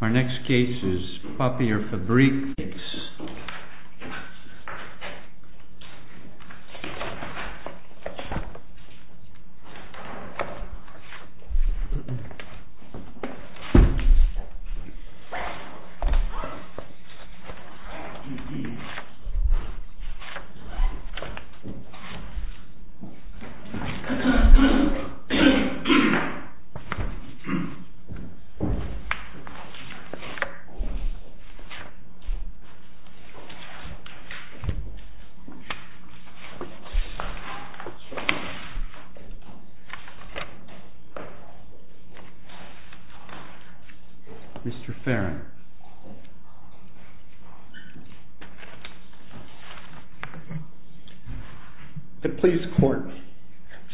Our next case is PAPIERFABRIK. Mr. Farrin. The police court.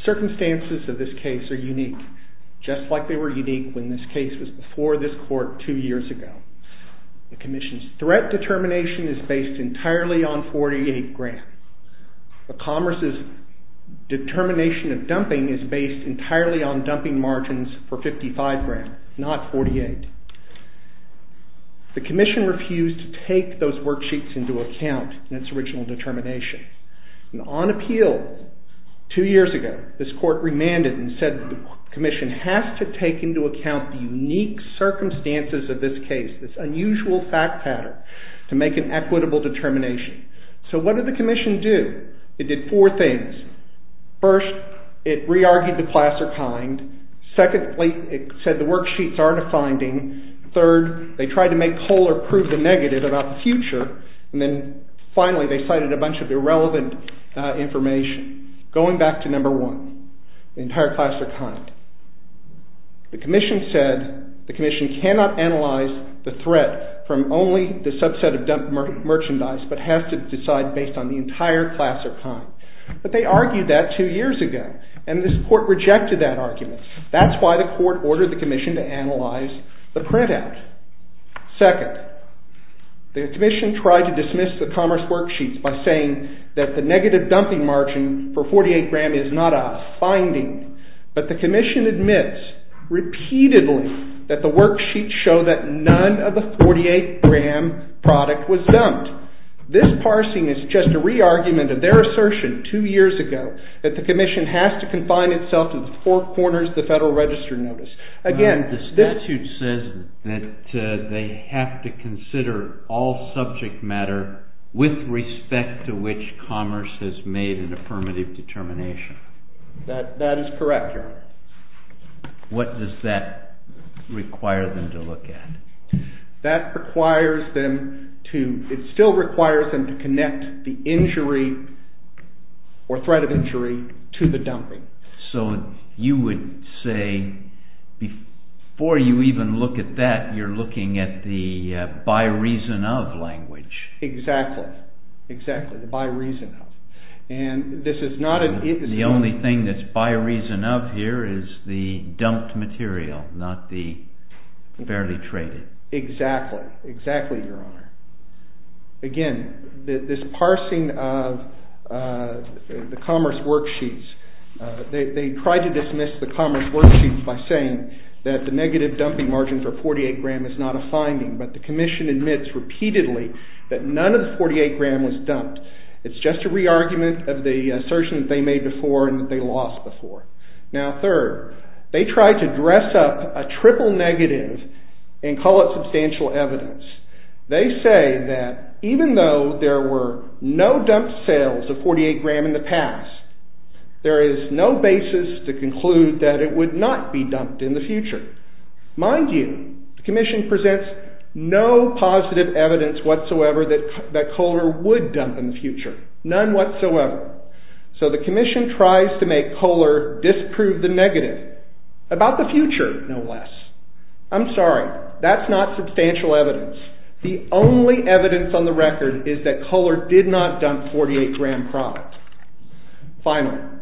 Circumstances of this case are unique, just like they were unique when this case was before this court two years ago. The Commission's threat determination is based entirely on 48 grand. The Commerce's determination of dumping is based entirely on dumping margins for 55 grand, not 48. The Commission refused to take those worksheets into account in its original determination. On appeal, two years ago, this court remanded and said the Commission has to take into account the unique circumstances of this case, this unusual fact pattern, to make an equitable determination. So what did the Commission do? It did four things. First, it re-argued the class or kind. Secondly, it said the worksheets aren't a finding. Third, they tried to make whole or prove the negative about the future. And then finally, they cited a bunch of irrelevant information. Going back to number one, the entire class or kind. The Commission said the Commission cannot analyze the threat from only the subset of dumped merchandise, but has to decide based on the entire class or kind. But they argued that two years ago, and this court rejected that argument. That's why the court ordered the Commission to analyze the printout. Second, the Commission tried to dismiss the commerce worksheets by saying that the negative dumping margin for 48-gram is not a finding. But the Commission admits repeatedly that the worksheets show that none of the 48-gram product was dumped. This parsing is just a re-argument of their assertion two years ago that the Commission has to confine itself to the four corners of the Federal Register notice. Again, this statute says that they have to consider all subject matter with respect to which commerce has made an affirmative determination. That is correct, Your Honor. What does that require them to look at? That requires them to, it still requires them to connect the injury or threat of injury to the dumping. So you would say before you even look at that, you're looking at the by reason of language. Exactly, exactly. The by reason of. And this is not an... The only thing that's by reason of here is the dumped material, not the fairly traded. Exactly, exactly, Your Honor. Again, this parsing of the commerce worksheets, they tried to dismiss the commerce worksheets by saying that the negative dumping margin for 48-gram is not a finding. But the Commission admits repeatedly that none of the 48-gram was dumped. It's just a re-argument of the assertion that they made before and that they lost before. Now third, they tried to dress up a triple negative and call it substantial evidence. They say that even though there were no dumped sales of 48-gram in the past, there is no basis to conclude that it would not be dumped in the future. Mind you, the Commission presents no positive evidence whatsoever that Kohler would dump in the future, none whatsoever. So the Commission tries to make Kohler disprove the negative about the future, no less. I'm sorry, that's not substantial evidence. The only evidence on the record is that Kohler did not dump 48-gram product. Finally,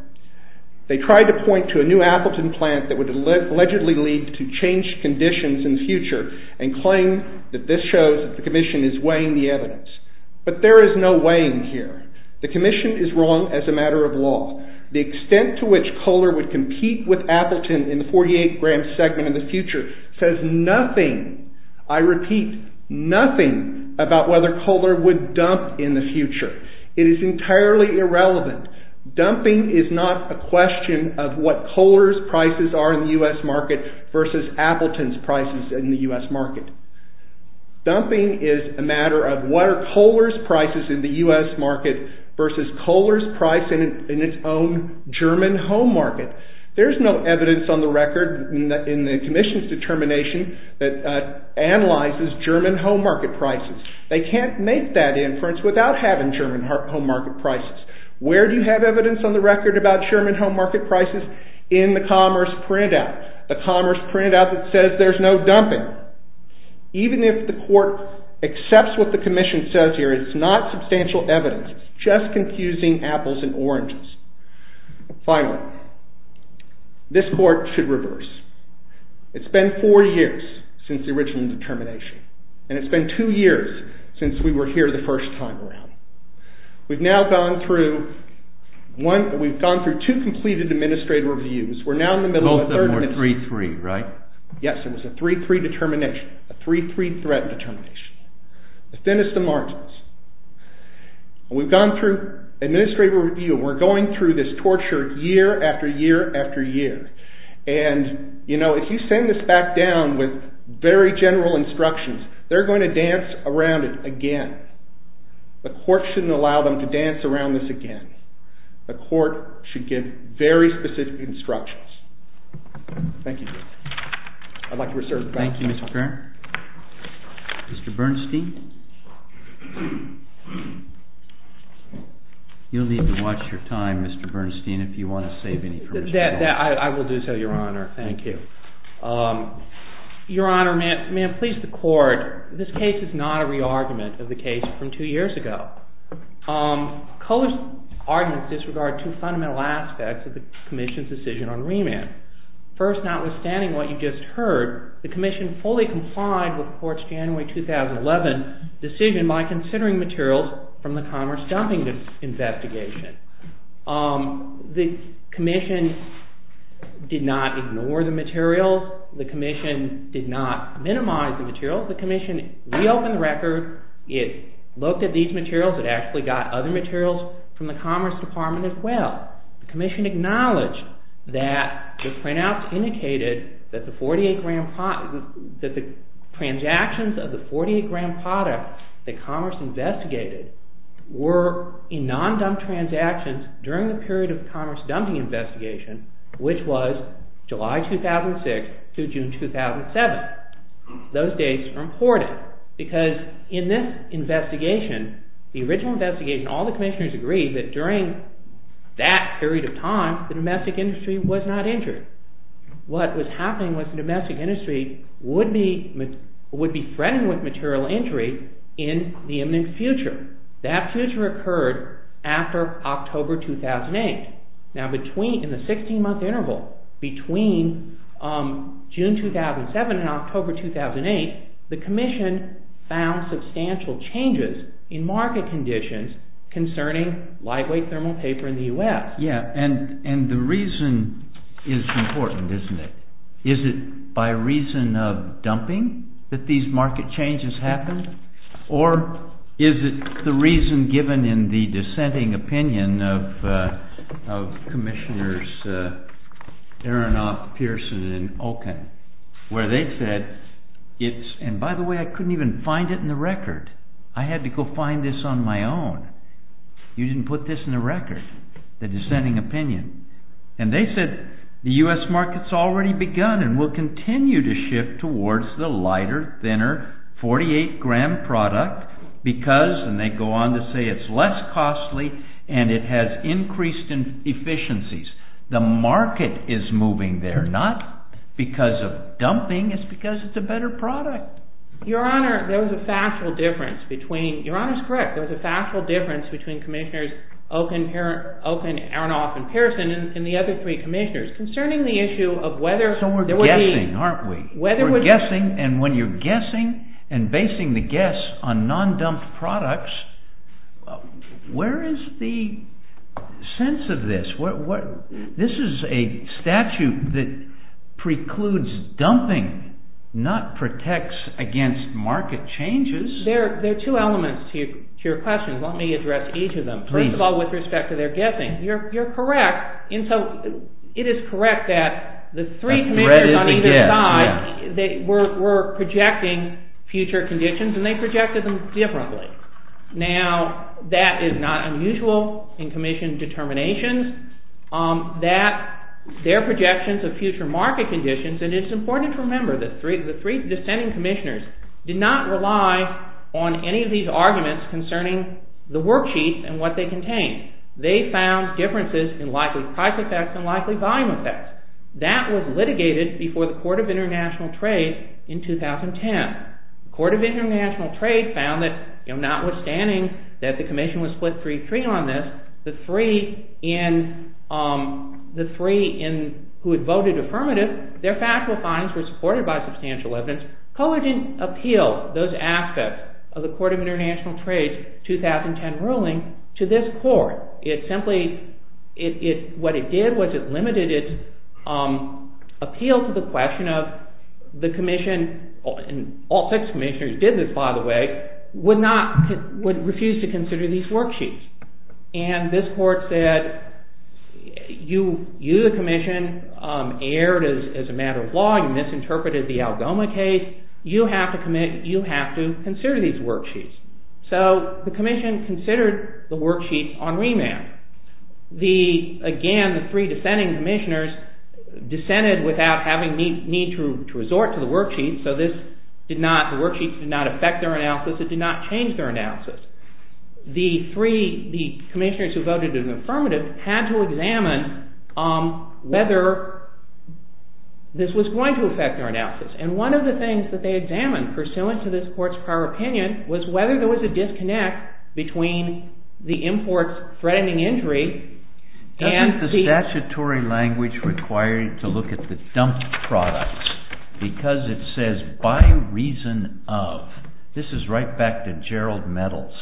they tried to point to a new Appleton plant that would allegedly lead to changed conditions in the future and claim that this shows that the Commission is weighing the evidence. But there is no weighing here. The Commission is wrong as a matter of law. The extent to which Kohler would compete with Appleton in the 48-gram segment in the future says nothing, I repeat, nothing about whether Kohler would dump in the future. It is entirely irrelevant. Dumping is not a question of what Kohler's prices are in the U.S. market versus Appleton's prices in the U.S. market. Dumping is a matter of what are Kohler's prices in the U.S. market versus Kohler's price in its own German home market. There is no evidence on the record in the Commission's determination that analyzes German home market prices. They can't make that inference without having German home market prices. Where do you have evidence on the record about German home market prices? In the commerce printout, the commerce printout that says there's no dumping. Even if the court accepts what the Commission says here, it's not substantial evidence. It's just confusing apples and oranges. Finally, this court should reverse. It's been four years since the original determination, and it's been two years since we were here the first time around. We've now gone through one, we've gone through two completed administrative reviews. We're now in the middle of a third one. Both of them were 3-3, right? Yes, it was a 3-3 determination, a 3-3 threat determination, the thinnest of margins. We've gone through administrative review. We're going through this torture year after year after year. And, you know, if you send this back down with very general instructions, they're going to dance around it again. The court shouldn't allow them to dance around this again. The court should give very specific instructions. Thank you. I'd like to reserve the right to talk now. Thank you, Mr. Baird. Mr. Bernstein. You'll need to watch your time, Mr. Bernstein, if you want to save any time. That, I will do so, Your Honor. Thank you. Your Honor, may I please the court, this case is not a re-argument of the case from two years ago. Kohler's arguments disregard two fundamental aspects of the commission's decision on remand. First, notwithstanding what you just heard, the commission fully complied with the court's January 2011 decision by considering materials from the commerce dumping investigation. The commission did not ignore the materials. The commission did not minimize the materials. The commission reopened the record. It looked at these materials. It actually got other materials from the commerce department as well. The commission acknowledged that the printouts indicated that the transactions of the 48-gram product that commerce investigated were in non-dump transactions during the period of the commerce dumping investigation, which was July 2006 through June 2007. Those dates are important because in this investigation, the original investigation, all the commissioners agreed that during that period of time, the domestic industry was not injured. What was happening was the domestic industry would be threatened with material injury in the imminent future. That future occurred after October 2008. Now, in the 16-month interval between June 2007 and October 2008, the commission found substantial changes in market conditions concerning lightweight thermal paper in the US. Yeah, and the reason is important, isn't it? Is it by reason of dumping that these market changes happened? Or is it the reason given in the dissenting opinion of commissioners Aronoff, Pearson, and Olkin, where they said, it's, and by the way, I couldn't even find it in the record. I had to go find this on my own. You didn't put this in the record, the dissenting opinion. And they said, the US market's already begun and will continue to shift towards the lighter, thinner, 48-gram product because, and they go on to say it's less costly and it has increased in efficiencies. The market is moving there, not because of dumping. It's because it's a better product. Your Honor, there was a factual difference between, your Honor's correct. There was a factual difference between commissioners Olkin, Aronoff, and Pearson and the other three commissioners concerning the issue of whether So we're guessing, aren't we? We're guessing, and when you're guessing and basing the guess on non-dumped products, where is the sense of this? This is a statute that precludes dumping, not protects against market changes. There are two elements to your question. Let me address each of them. First of all, with respect to their guessing, you're correct. And so it is correct that the three commissioners on either side were projecting future conditions and they projected them differently. Now, that is not unusual in commission determinations that their projections of future market conditions, and it's important to remember that the three dissenting commissioners did not rely on any of these arguments concerning the worksheets and what they contained. They found differences in likely price effects and likely volume effects. That was litigated before the Court of International Trade in 2010. The Court of International Trade found that, you know, notwithstanding that the commission was split 3-3 on this, the three who had voted affirmative, their factual findings were supported by substantial evidence. Court didn't appeal those aspects of the Court of International Trade's 2010 ruling to this court. It simply, what it did was it limited its appeal to the question of the commission, and all six commissioners did this, by the way, would refuse to consider these worksheets. And this court said, you, the commission, erred as a matter of law, you misinterpreted the Algoma case, you have to commit, you have to consider these worksheets. So the commission considered the worksheets on remand. The, again, the three dissenting commissioners dissented without having need to resort to the worksheets, so this did not, the worksheets did not affect their analysis, it did not change their analysis. The three, the commissioners who voted in the affirmative had to examine whether this was going to affect their analysis. And one of the things that they examined, pursuant to this court's prior opinion, was whether there was a disconnect between the import's threatening injury, and the. The statutory language required to look at the dumped products, because it says, by reason of, this is right back to Gerald Metals,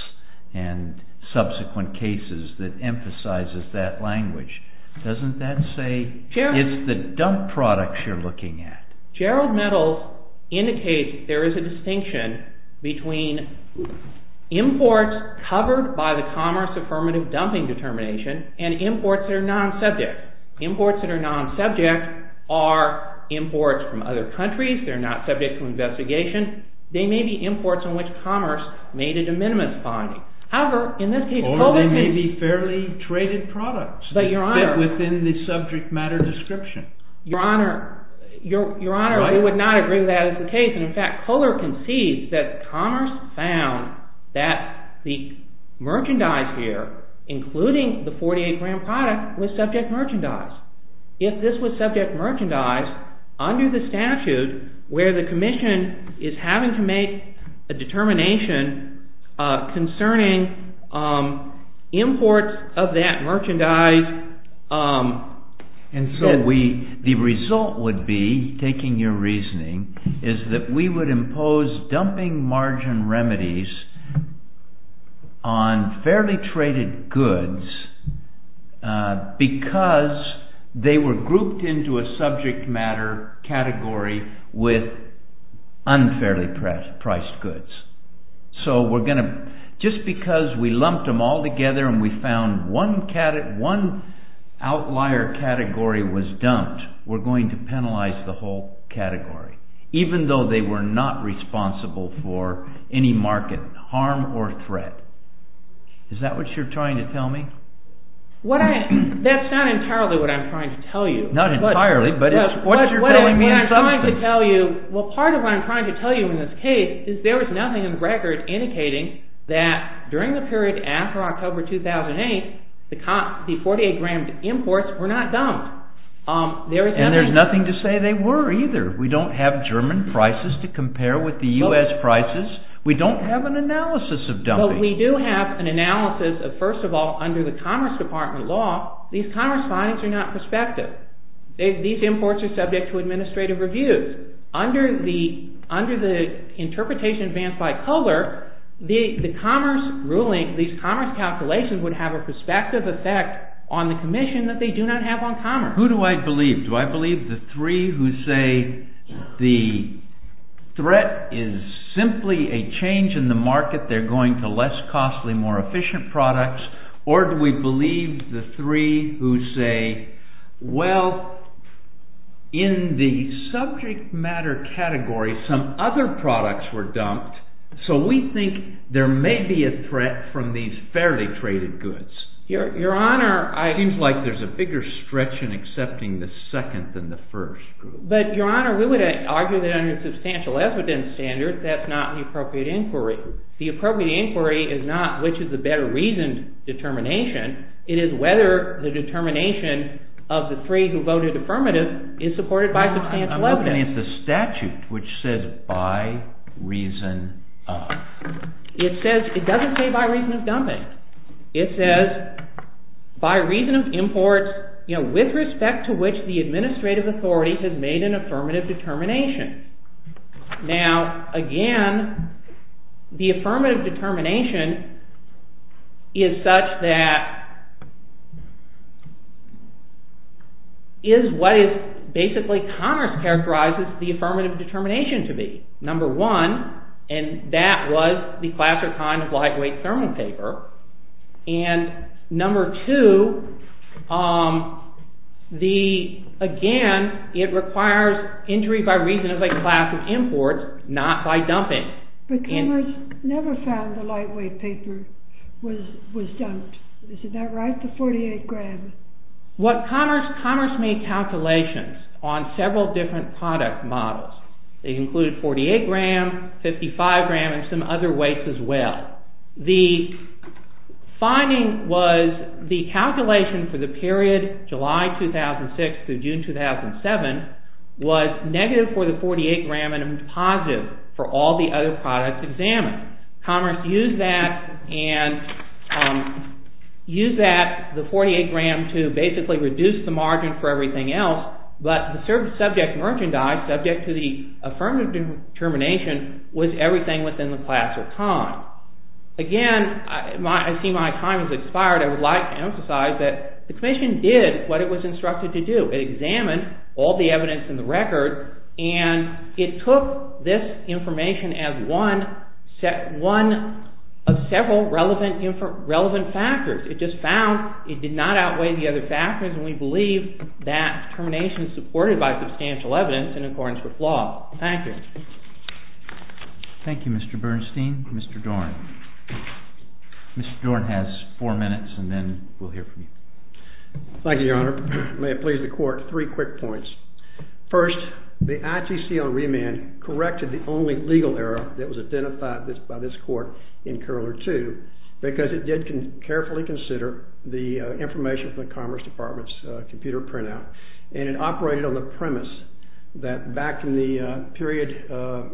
and subsequent cases that emphasizes that language, doesn't that say, it's the dumped products you're looking at. Gerald Metals indicates there is a distinction between imports covered by the Commerce Affirmative Dumping Determination, and imports that are non-subject. Imports that are non-subject are imports from other countries, they're not subject to investigation, they may be imports in which commerce made a de minimis finding. However, in this case, Kohler. Or they may be fairly traded products. But your honor. Within the subject matter description. Your honor, your honor, I would not agree with that as the case, and in fact, Kohler concedes that commerce found that the merchandise here, including the 48-gram product, was subject merchandise. If this was subject merchandise, under the statute, where the commission is having to make a determination concerning imports of that merchandise. And so we, the result would be, taking your reasoning, is that we would impose dumping margin remedies on fairly traded goods, because they were grouped into a subject matter category with unfairly priced goods. So we're going to, just because we lumped them all together and we found one outlier category was dumped, we're going to penalize the whole category. Even though they were not responsible for any market harm or threat. Is that what you're trying to tell me? What I, that's not entirely what I'm trying to tell you. Not entirely, but it's, what's your telling me in substance? What I'm trying to tell you, well part of what I'm trying to tell you in this case is there is nothing in the record indicating that during the period after October 2008, the 48-gram imports were not dumped. There is nothing. And there's nothing to say they were either. We don't have German prices to compare with the U.S. prices. We don't have an analysis of dumping. But we do have an analysis of, first of all, under the Commerce Department law, these commerce findings are not prospective. These imports are subject to administrative reviews. Under the interpretation advanced by Kohler, the commerce ruling, these commerce calculations would have a prospective effect on the commission that they do not have on commerce. Who do I believe? Do I believe the three who say the threat is simply a change in the market, they're going to less costly, more efficient products? Or do we believe the three who say, well, in the subject matter category, some other products were dumped, so we think there may be a threat from these fairly traded goods? Your Honor, I. It seems like there's a bigger stretch in accepting the second than the first group. But Your Honor, we would argue that under a substantial evidence standard, that's not an appropriate inquiry. The appropriate inquiry is not which is the better reasoned determination. It is whether the determination of the three who voted affirmative is supported by substantial evidence. I'm looking at the statute, which says by reason of. It says, it doesn't say by reason of dumping. It says by reason of imports, you know, with respect to which the administrative authority has made an affirmative determination. Now, again, the affirmative determination is such that is what is basically, Congress characterizes the affirmative determination to be. Number one, and that was the class or kind of lightweight thermal paper. And number two, the, again, it requires injury by reason of a class of imports, not by dumping. But Congress never found the lightweight paper was dumped, is that right, the 48 grams? What Congress, Congress made calculations on several different product models. They included 48 grams, 55 grams, and some other weights as well. The finding was the calculation for the period July 2006 to June 2007 was negative for the 48 gram and positive for all the other products examined. Congress used that and used that, the 48 gram, to basically reduce the margin for everything else. But the subject merchandise, subject to the affirmative determination, was everything within the class or kind. Again, I see my time has expired. I would like to emphasize that the Commission did what it was instructed to do. It examined all the evidence in the record, and it took this information as one set, one of several relevant, different, relevant factors. It just found it did not outweigh the other factors, and we believe that determination is supported by substantial evidence in accordance with law. Thank you. Thank you, Mr. Bernstein. Mr. Dorn. Mr. Dorn has four minutes, and then we'll hear from you. Thank you, Your Honor. May it please the Court, three quick points. First, the ITC on remand corrected the only legal error that was identified by this Court in Curler 2 because it did carefully consider the information from the Commerce Department's computer printout, and it operated on the premise that back in the period of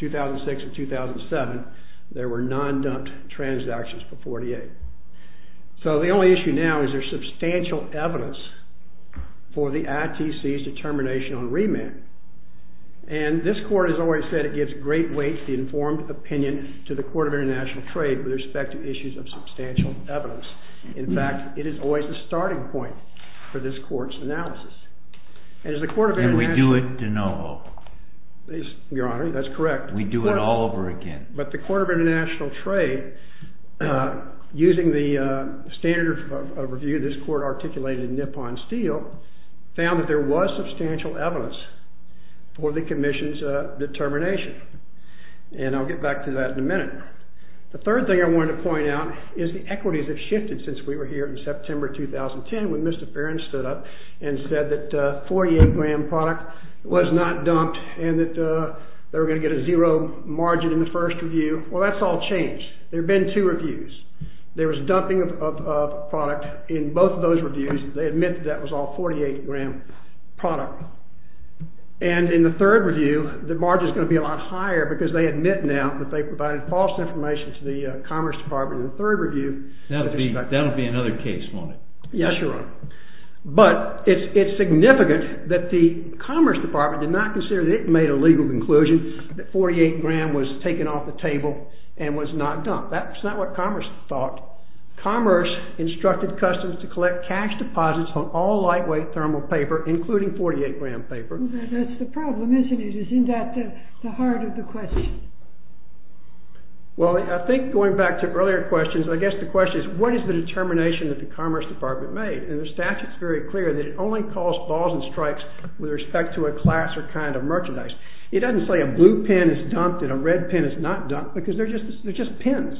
2006 and 2007, there were non-dumped transactions for 48. So the only issue now is there's substantial evidence for the ITC's determination on remand, and this Court has always said it gives great weight to the informed opinion to the Court of International Trade with respect to issues of substantial evidence. In fact, it is always the starting point for this Court's analysis. And as the Court of International Trade... And we do it de novo. Your Honor, that's correct. We do it all over again. But the Court of International Trade, using the standard of review this Court articulated in Nippon Steel, found that there was substantial evidence for the Commission's determination, and I'll get back to that in a minute. The third thing I wanted to point out is the equities have shifted since we were here in September 2010 when Mr. Perrin stood up and said that a 48-gram product was not dumped and that they were going to get a zero margin in the first review. Well, that's all changed. There have been two reviews. There was dumping of product in both of those reviews. They admit that that was all 48-gram product. And in the third review, the margin is going to be a lot higher because they admit now that they provided false information to the Commerce Department in the third review. That'll be another case, won't it? Yes, Your Honor. But it's significant that the Commerce Department did not consider that it made a legal conclusion that 48-gram was taken off the table and was not dumped. That's not what Commerce thought. Commerce instructed customers to collect cash deposits on all lightweight thermal paper, including 48-gram paper. That's the problem, isn't it? Isn't that the heart of the question? Well, I think going back to earlier questions, I guess the question is, what is the determination that the Commerce Department made? And the statute's very clear that it only calls balls and strikes with respect to a class or kind of merchandise. It doesn't say a blue pen is dumped and a red pen is not dumped because they're just pens.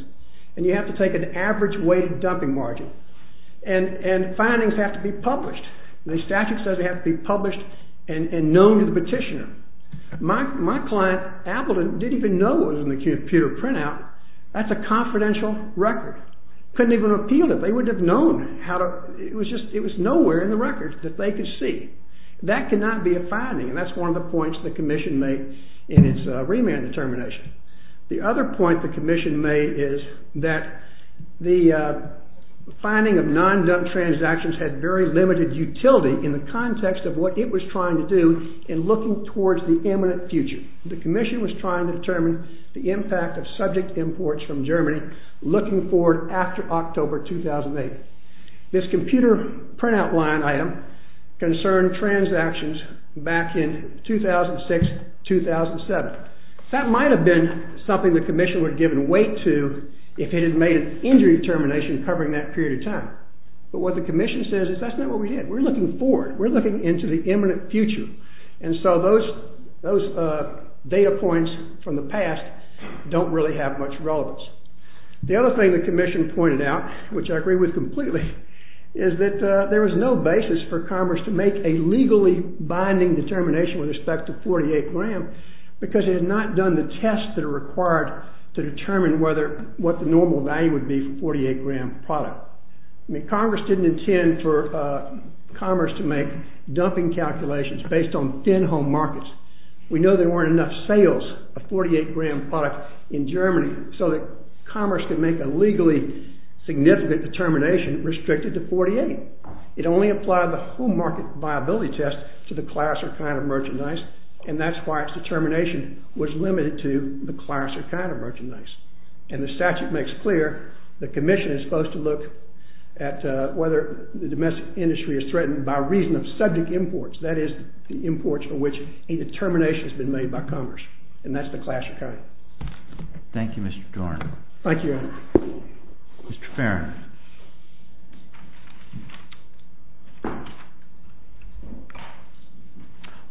And you have to take an average weight of dumping margin. And findings have to be published. The statute says they have to be published and known to the petitioner. My client, Appleton, didn't even know it was in the computer printout. That's a confidential record. Couldn't even appeal it. They wouldn't have known how to, it was just, it was nowhere in the record that they could see. That cannot be a finding. And that's one of the points the Commission made in its remand determination. The other point the Commission made is that the finding of non-dump transactions had very limited utility in the context of what it was trying to do in looking towards the imminent future. The Commission was trying to determine the impact of subject imports from Germany looking forward after October 2008. This computer printout line item concerned transactions back in 2006-2007. That might have been something the Commission would have given weight to if it had made an injury determination covering that period of time. But what the Commission says is that's not what we did. We're looking forward. We're looking into the imminent future. And so those data points from the past don't really have much relevance. The other thing the Commission pointed out, which I agree with completely, is that there was no basis for Commerce to make a legally binding determination with respect to 48 gram because it had not done the tests that are required to determine what the normal value would be for 48 gram product. I mean, Congress didn't intend for Commerce to make dumping calculations based on thin home markets. We know there weren't enough sales of 48 gram product in Germany so that Commerce could make a legally significant determination restricted to 48. It only applied the home market viability test to the class or kind of merchandise, and that's why its determination was limited to the class or kind of merchandise. And the statute makes clear the Commission is supposed to look at whether the domestic industry is threatened by reason of subject imports, that is the imports of which a determination has been made by Commerce, and that's the class or kind. Thank you, Mr. Dorn. Thank you, Your Honor. Mr. Farrin.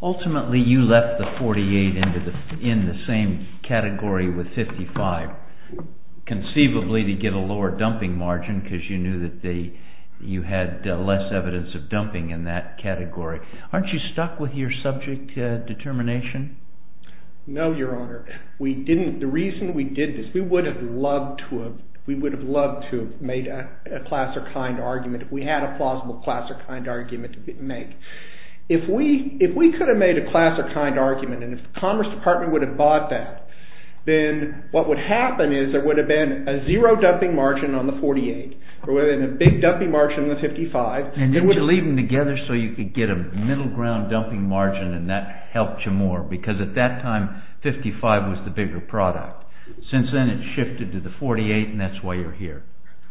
Ultimately, you left the 48 in the same category with 55 conceivably to get a lower dumping margin because you knew that you had less evidence of dumping in that category. Aren't you stuck with your subject determination? No, Your Honor. We didn't. The reason we did this, we would have loved to have made a class or kind argument if we had a plausible class or kind argument to make. If we could have made a class or kind argument, and if the Commerce Department would have bought that, then what would happen is there would have been a zero dumping margin on the 48, or rather a big dumping margin on the 55. And you leave them together so you could get a middle ground dumping margin, and that helped you more, because at that time, 55 was the bigger product. Since then, it's shifted to the 48, and that's why you're here.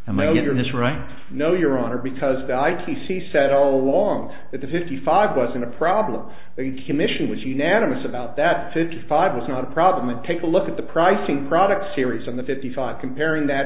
Am I getting this right? No, Your Honor, because the ITC said all along that the 55 wasn't a problem. The Commission was unanimous about that. The 55 was not a problem. And take a look at the pricing product series on the 55, comparing the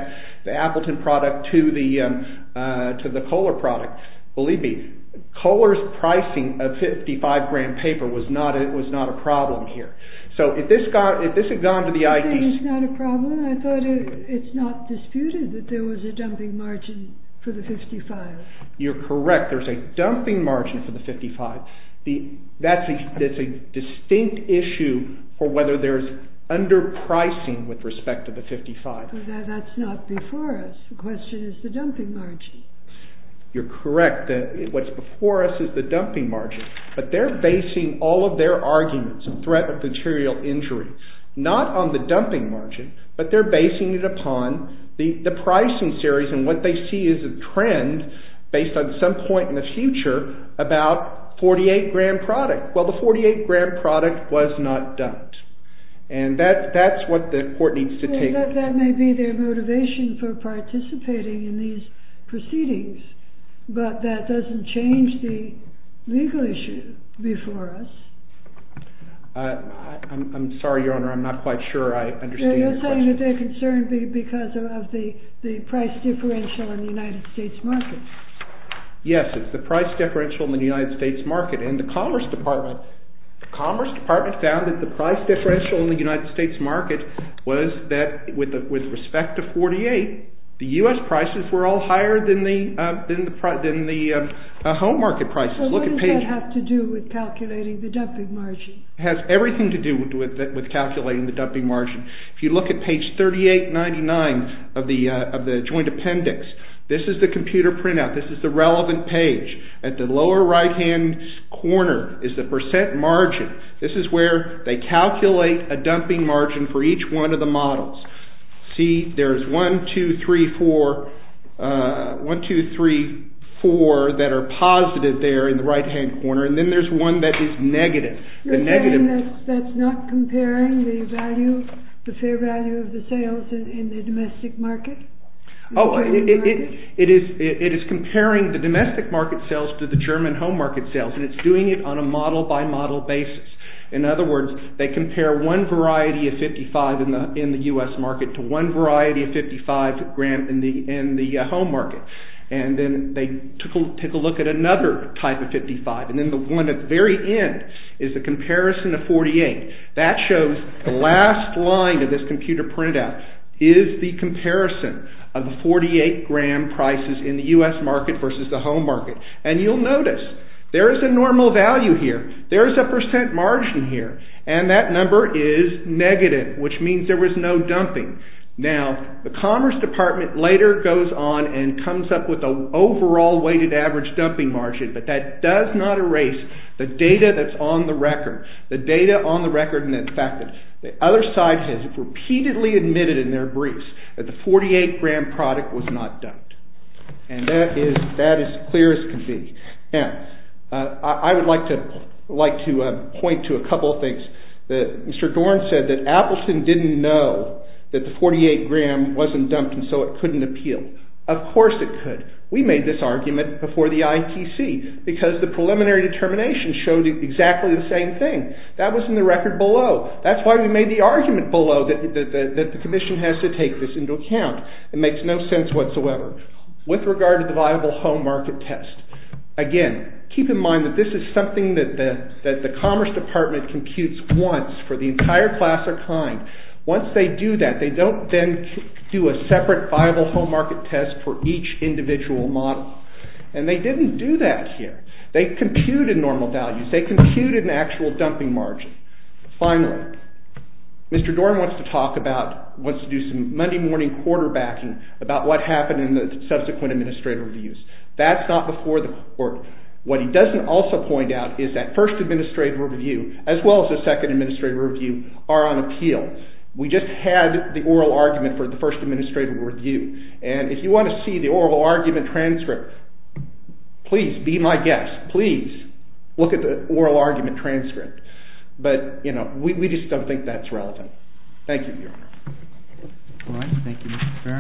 Appleton product to the Kohler product. Believe me, Kohler's pricing of 55 grand paper was not a problem here. So if this had gone to the ITC... You're saying it's not a problem? I thought it's not disputed that there was a dumping margin for the 55. You're correct. There's a dumping margin for the 55. That's a distinct issue for whether there's underpricing with respect to the 55. That's not before us. The question is the dumping margin. You're correct. What's before us is the dumping margin. But they're basing all of their arguments on threat of material injury, not on the dumping margin, but they're basing it upon the pricing series and what they see as a trend based on some point in the future about 48 grand product. Well, the 48 grand product was not dumped. And that's what the court needs to take... That may be their motivation for participating in these proceedings, but that doesn't change the legal issue before us. I'm sorry, Your Honor, I'm not quite sure I understand your question. You're saying that they're concerned because of the price differential in the United States market. Yes, it's the price differential in the United States market. And the Commerce Department found that the price differential in the United States market was that with respect to 48, the US prices were all higher than the home market prices. So what does that have to do with calculating the dumping margin? It has everything to do with calculating the dumping margin. If you look at page 3899 of the joint appendix, this is the computer printout. This is the relevant page. At the lower right-hand corner is the percent margin. This is where they calculate a dumping margin for each one of the models. See, there's 1, 2, 3, 4 that are positive there in the right-hand corner. And then there's one that is negative. You're saying that's not comparing the value, the fair value of the sales in the domestic market? Oh, it is comparing the domestic market sales to the German home market sales. And it's doing it on a model by model basis. In other words, they compare one variety of 55 in the US market to one variety of 55 gram in the home market. And then they take a look at another type of 55. And then the one at the very end is the comparison of 48. That shows the last line of this computer printout is the comparison of 48 gram prices in the US market versus the home market. And you'll notice there is a normal value here. There is a percent margin here. And that number is negative, which means there was no dumping. Now, the Commerce Department later goes on and comes up with an overall weighted average dumping margin. But that does not erase the data that's on the record. The data on the record and the fact that the other side has repeatedly admitted in their briefs that the 48 gram product was not dumped. And that is as clear as can be. Now, I would like to point to a couple of things that Mr. Dorn said that Appleton didn't know that the 48 gram wasn't dumped and so it couldn't appeal. Of course it could. We made this argument before the ITC because the preliminary determination showed exactly the same thing. That was in the record below. That's why we made the argument below that the commission has to take this into account. It makes no sense whatsoever. With regard to the viable home market test, again, keep in mind that this is something that the Commerce Department computes once for the entire class or kind. Once they do that, they don't then do a separate viable home market test for each individual model. And they didn't do that here. They computed normal values. They computed an actual dumping margin. Finally, Mr. Dorn wants to talk about, wants to do some Monday morning quarterbacking about what happened in the subsequent administrative reviews. That's not before the court. What he doesn't also point out is that first administrative review, as well as the second administrative review, are on appeal. We just had the oral argument for the first administrative review. And if you want to see the oral argument transcript, please be my guest. Please look at the oral argument transcript. But, you know, we just don't think that's relevant. Thank you, Your Honor. All right. Thank you, Mr. Stern.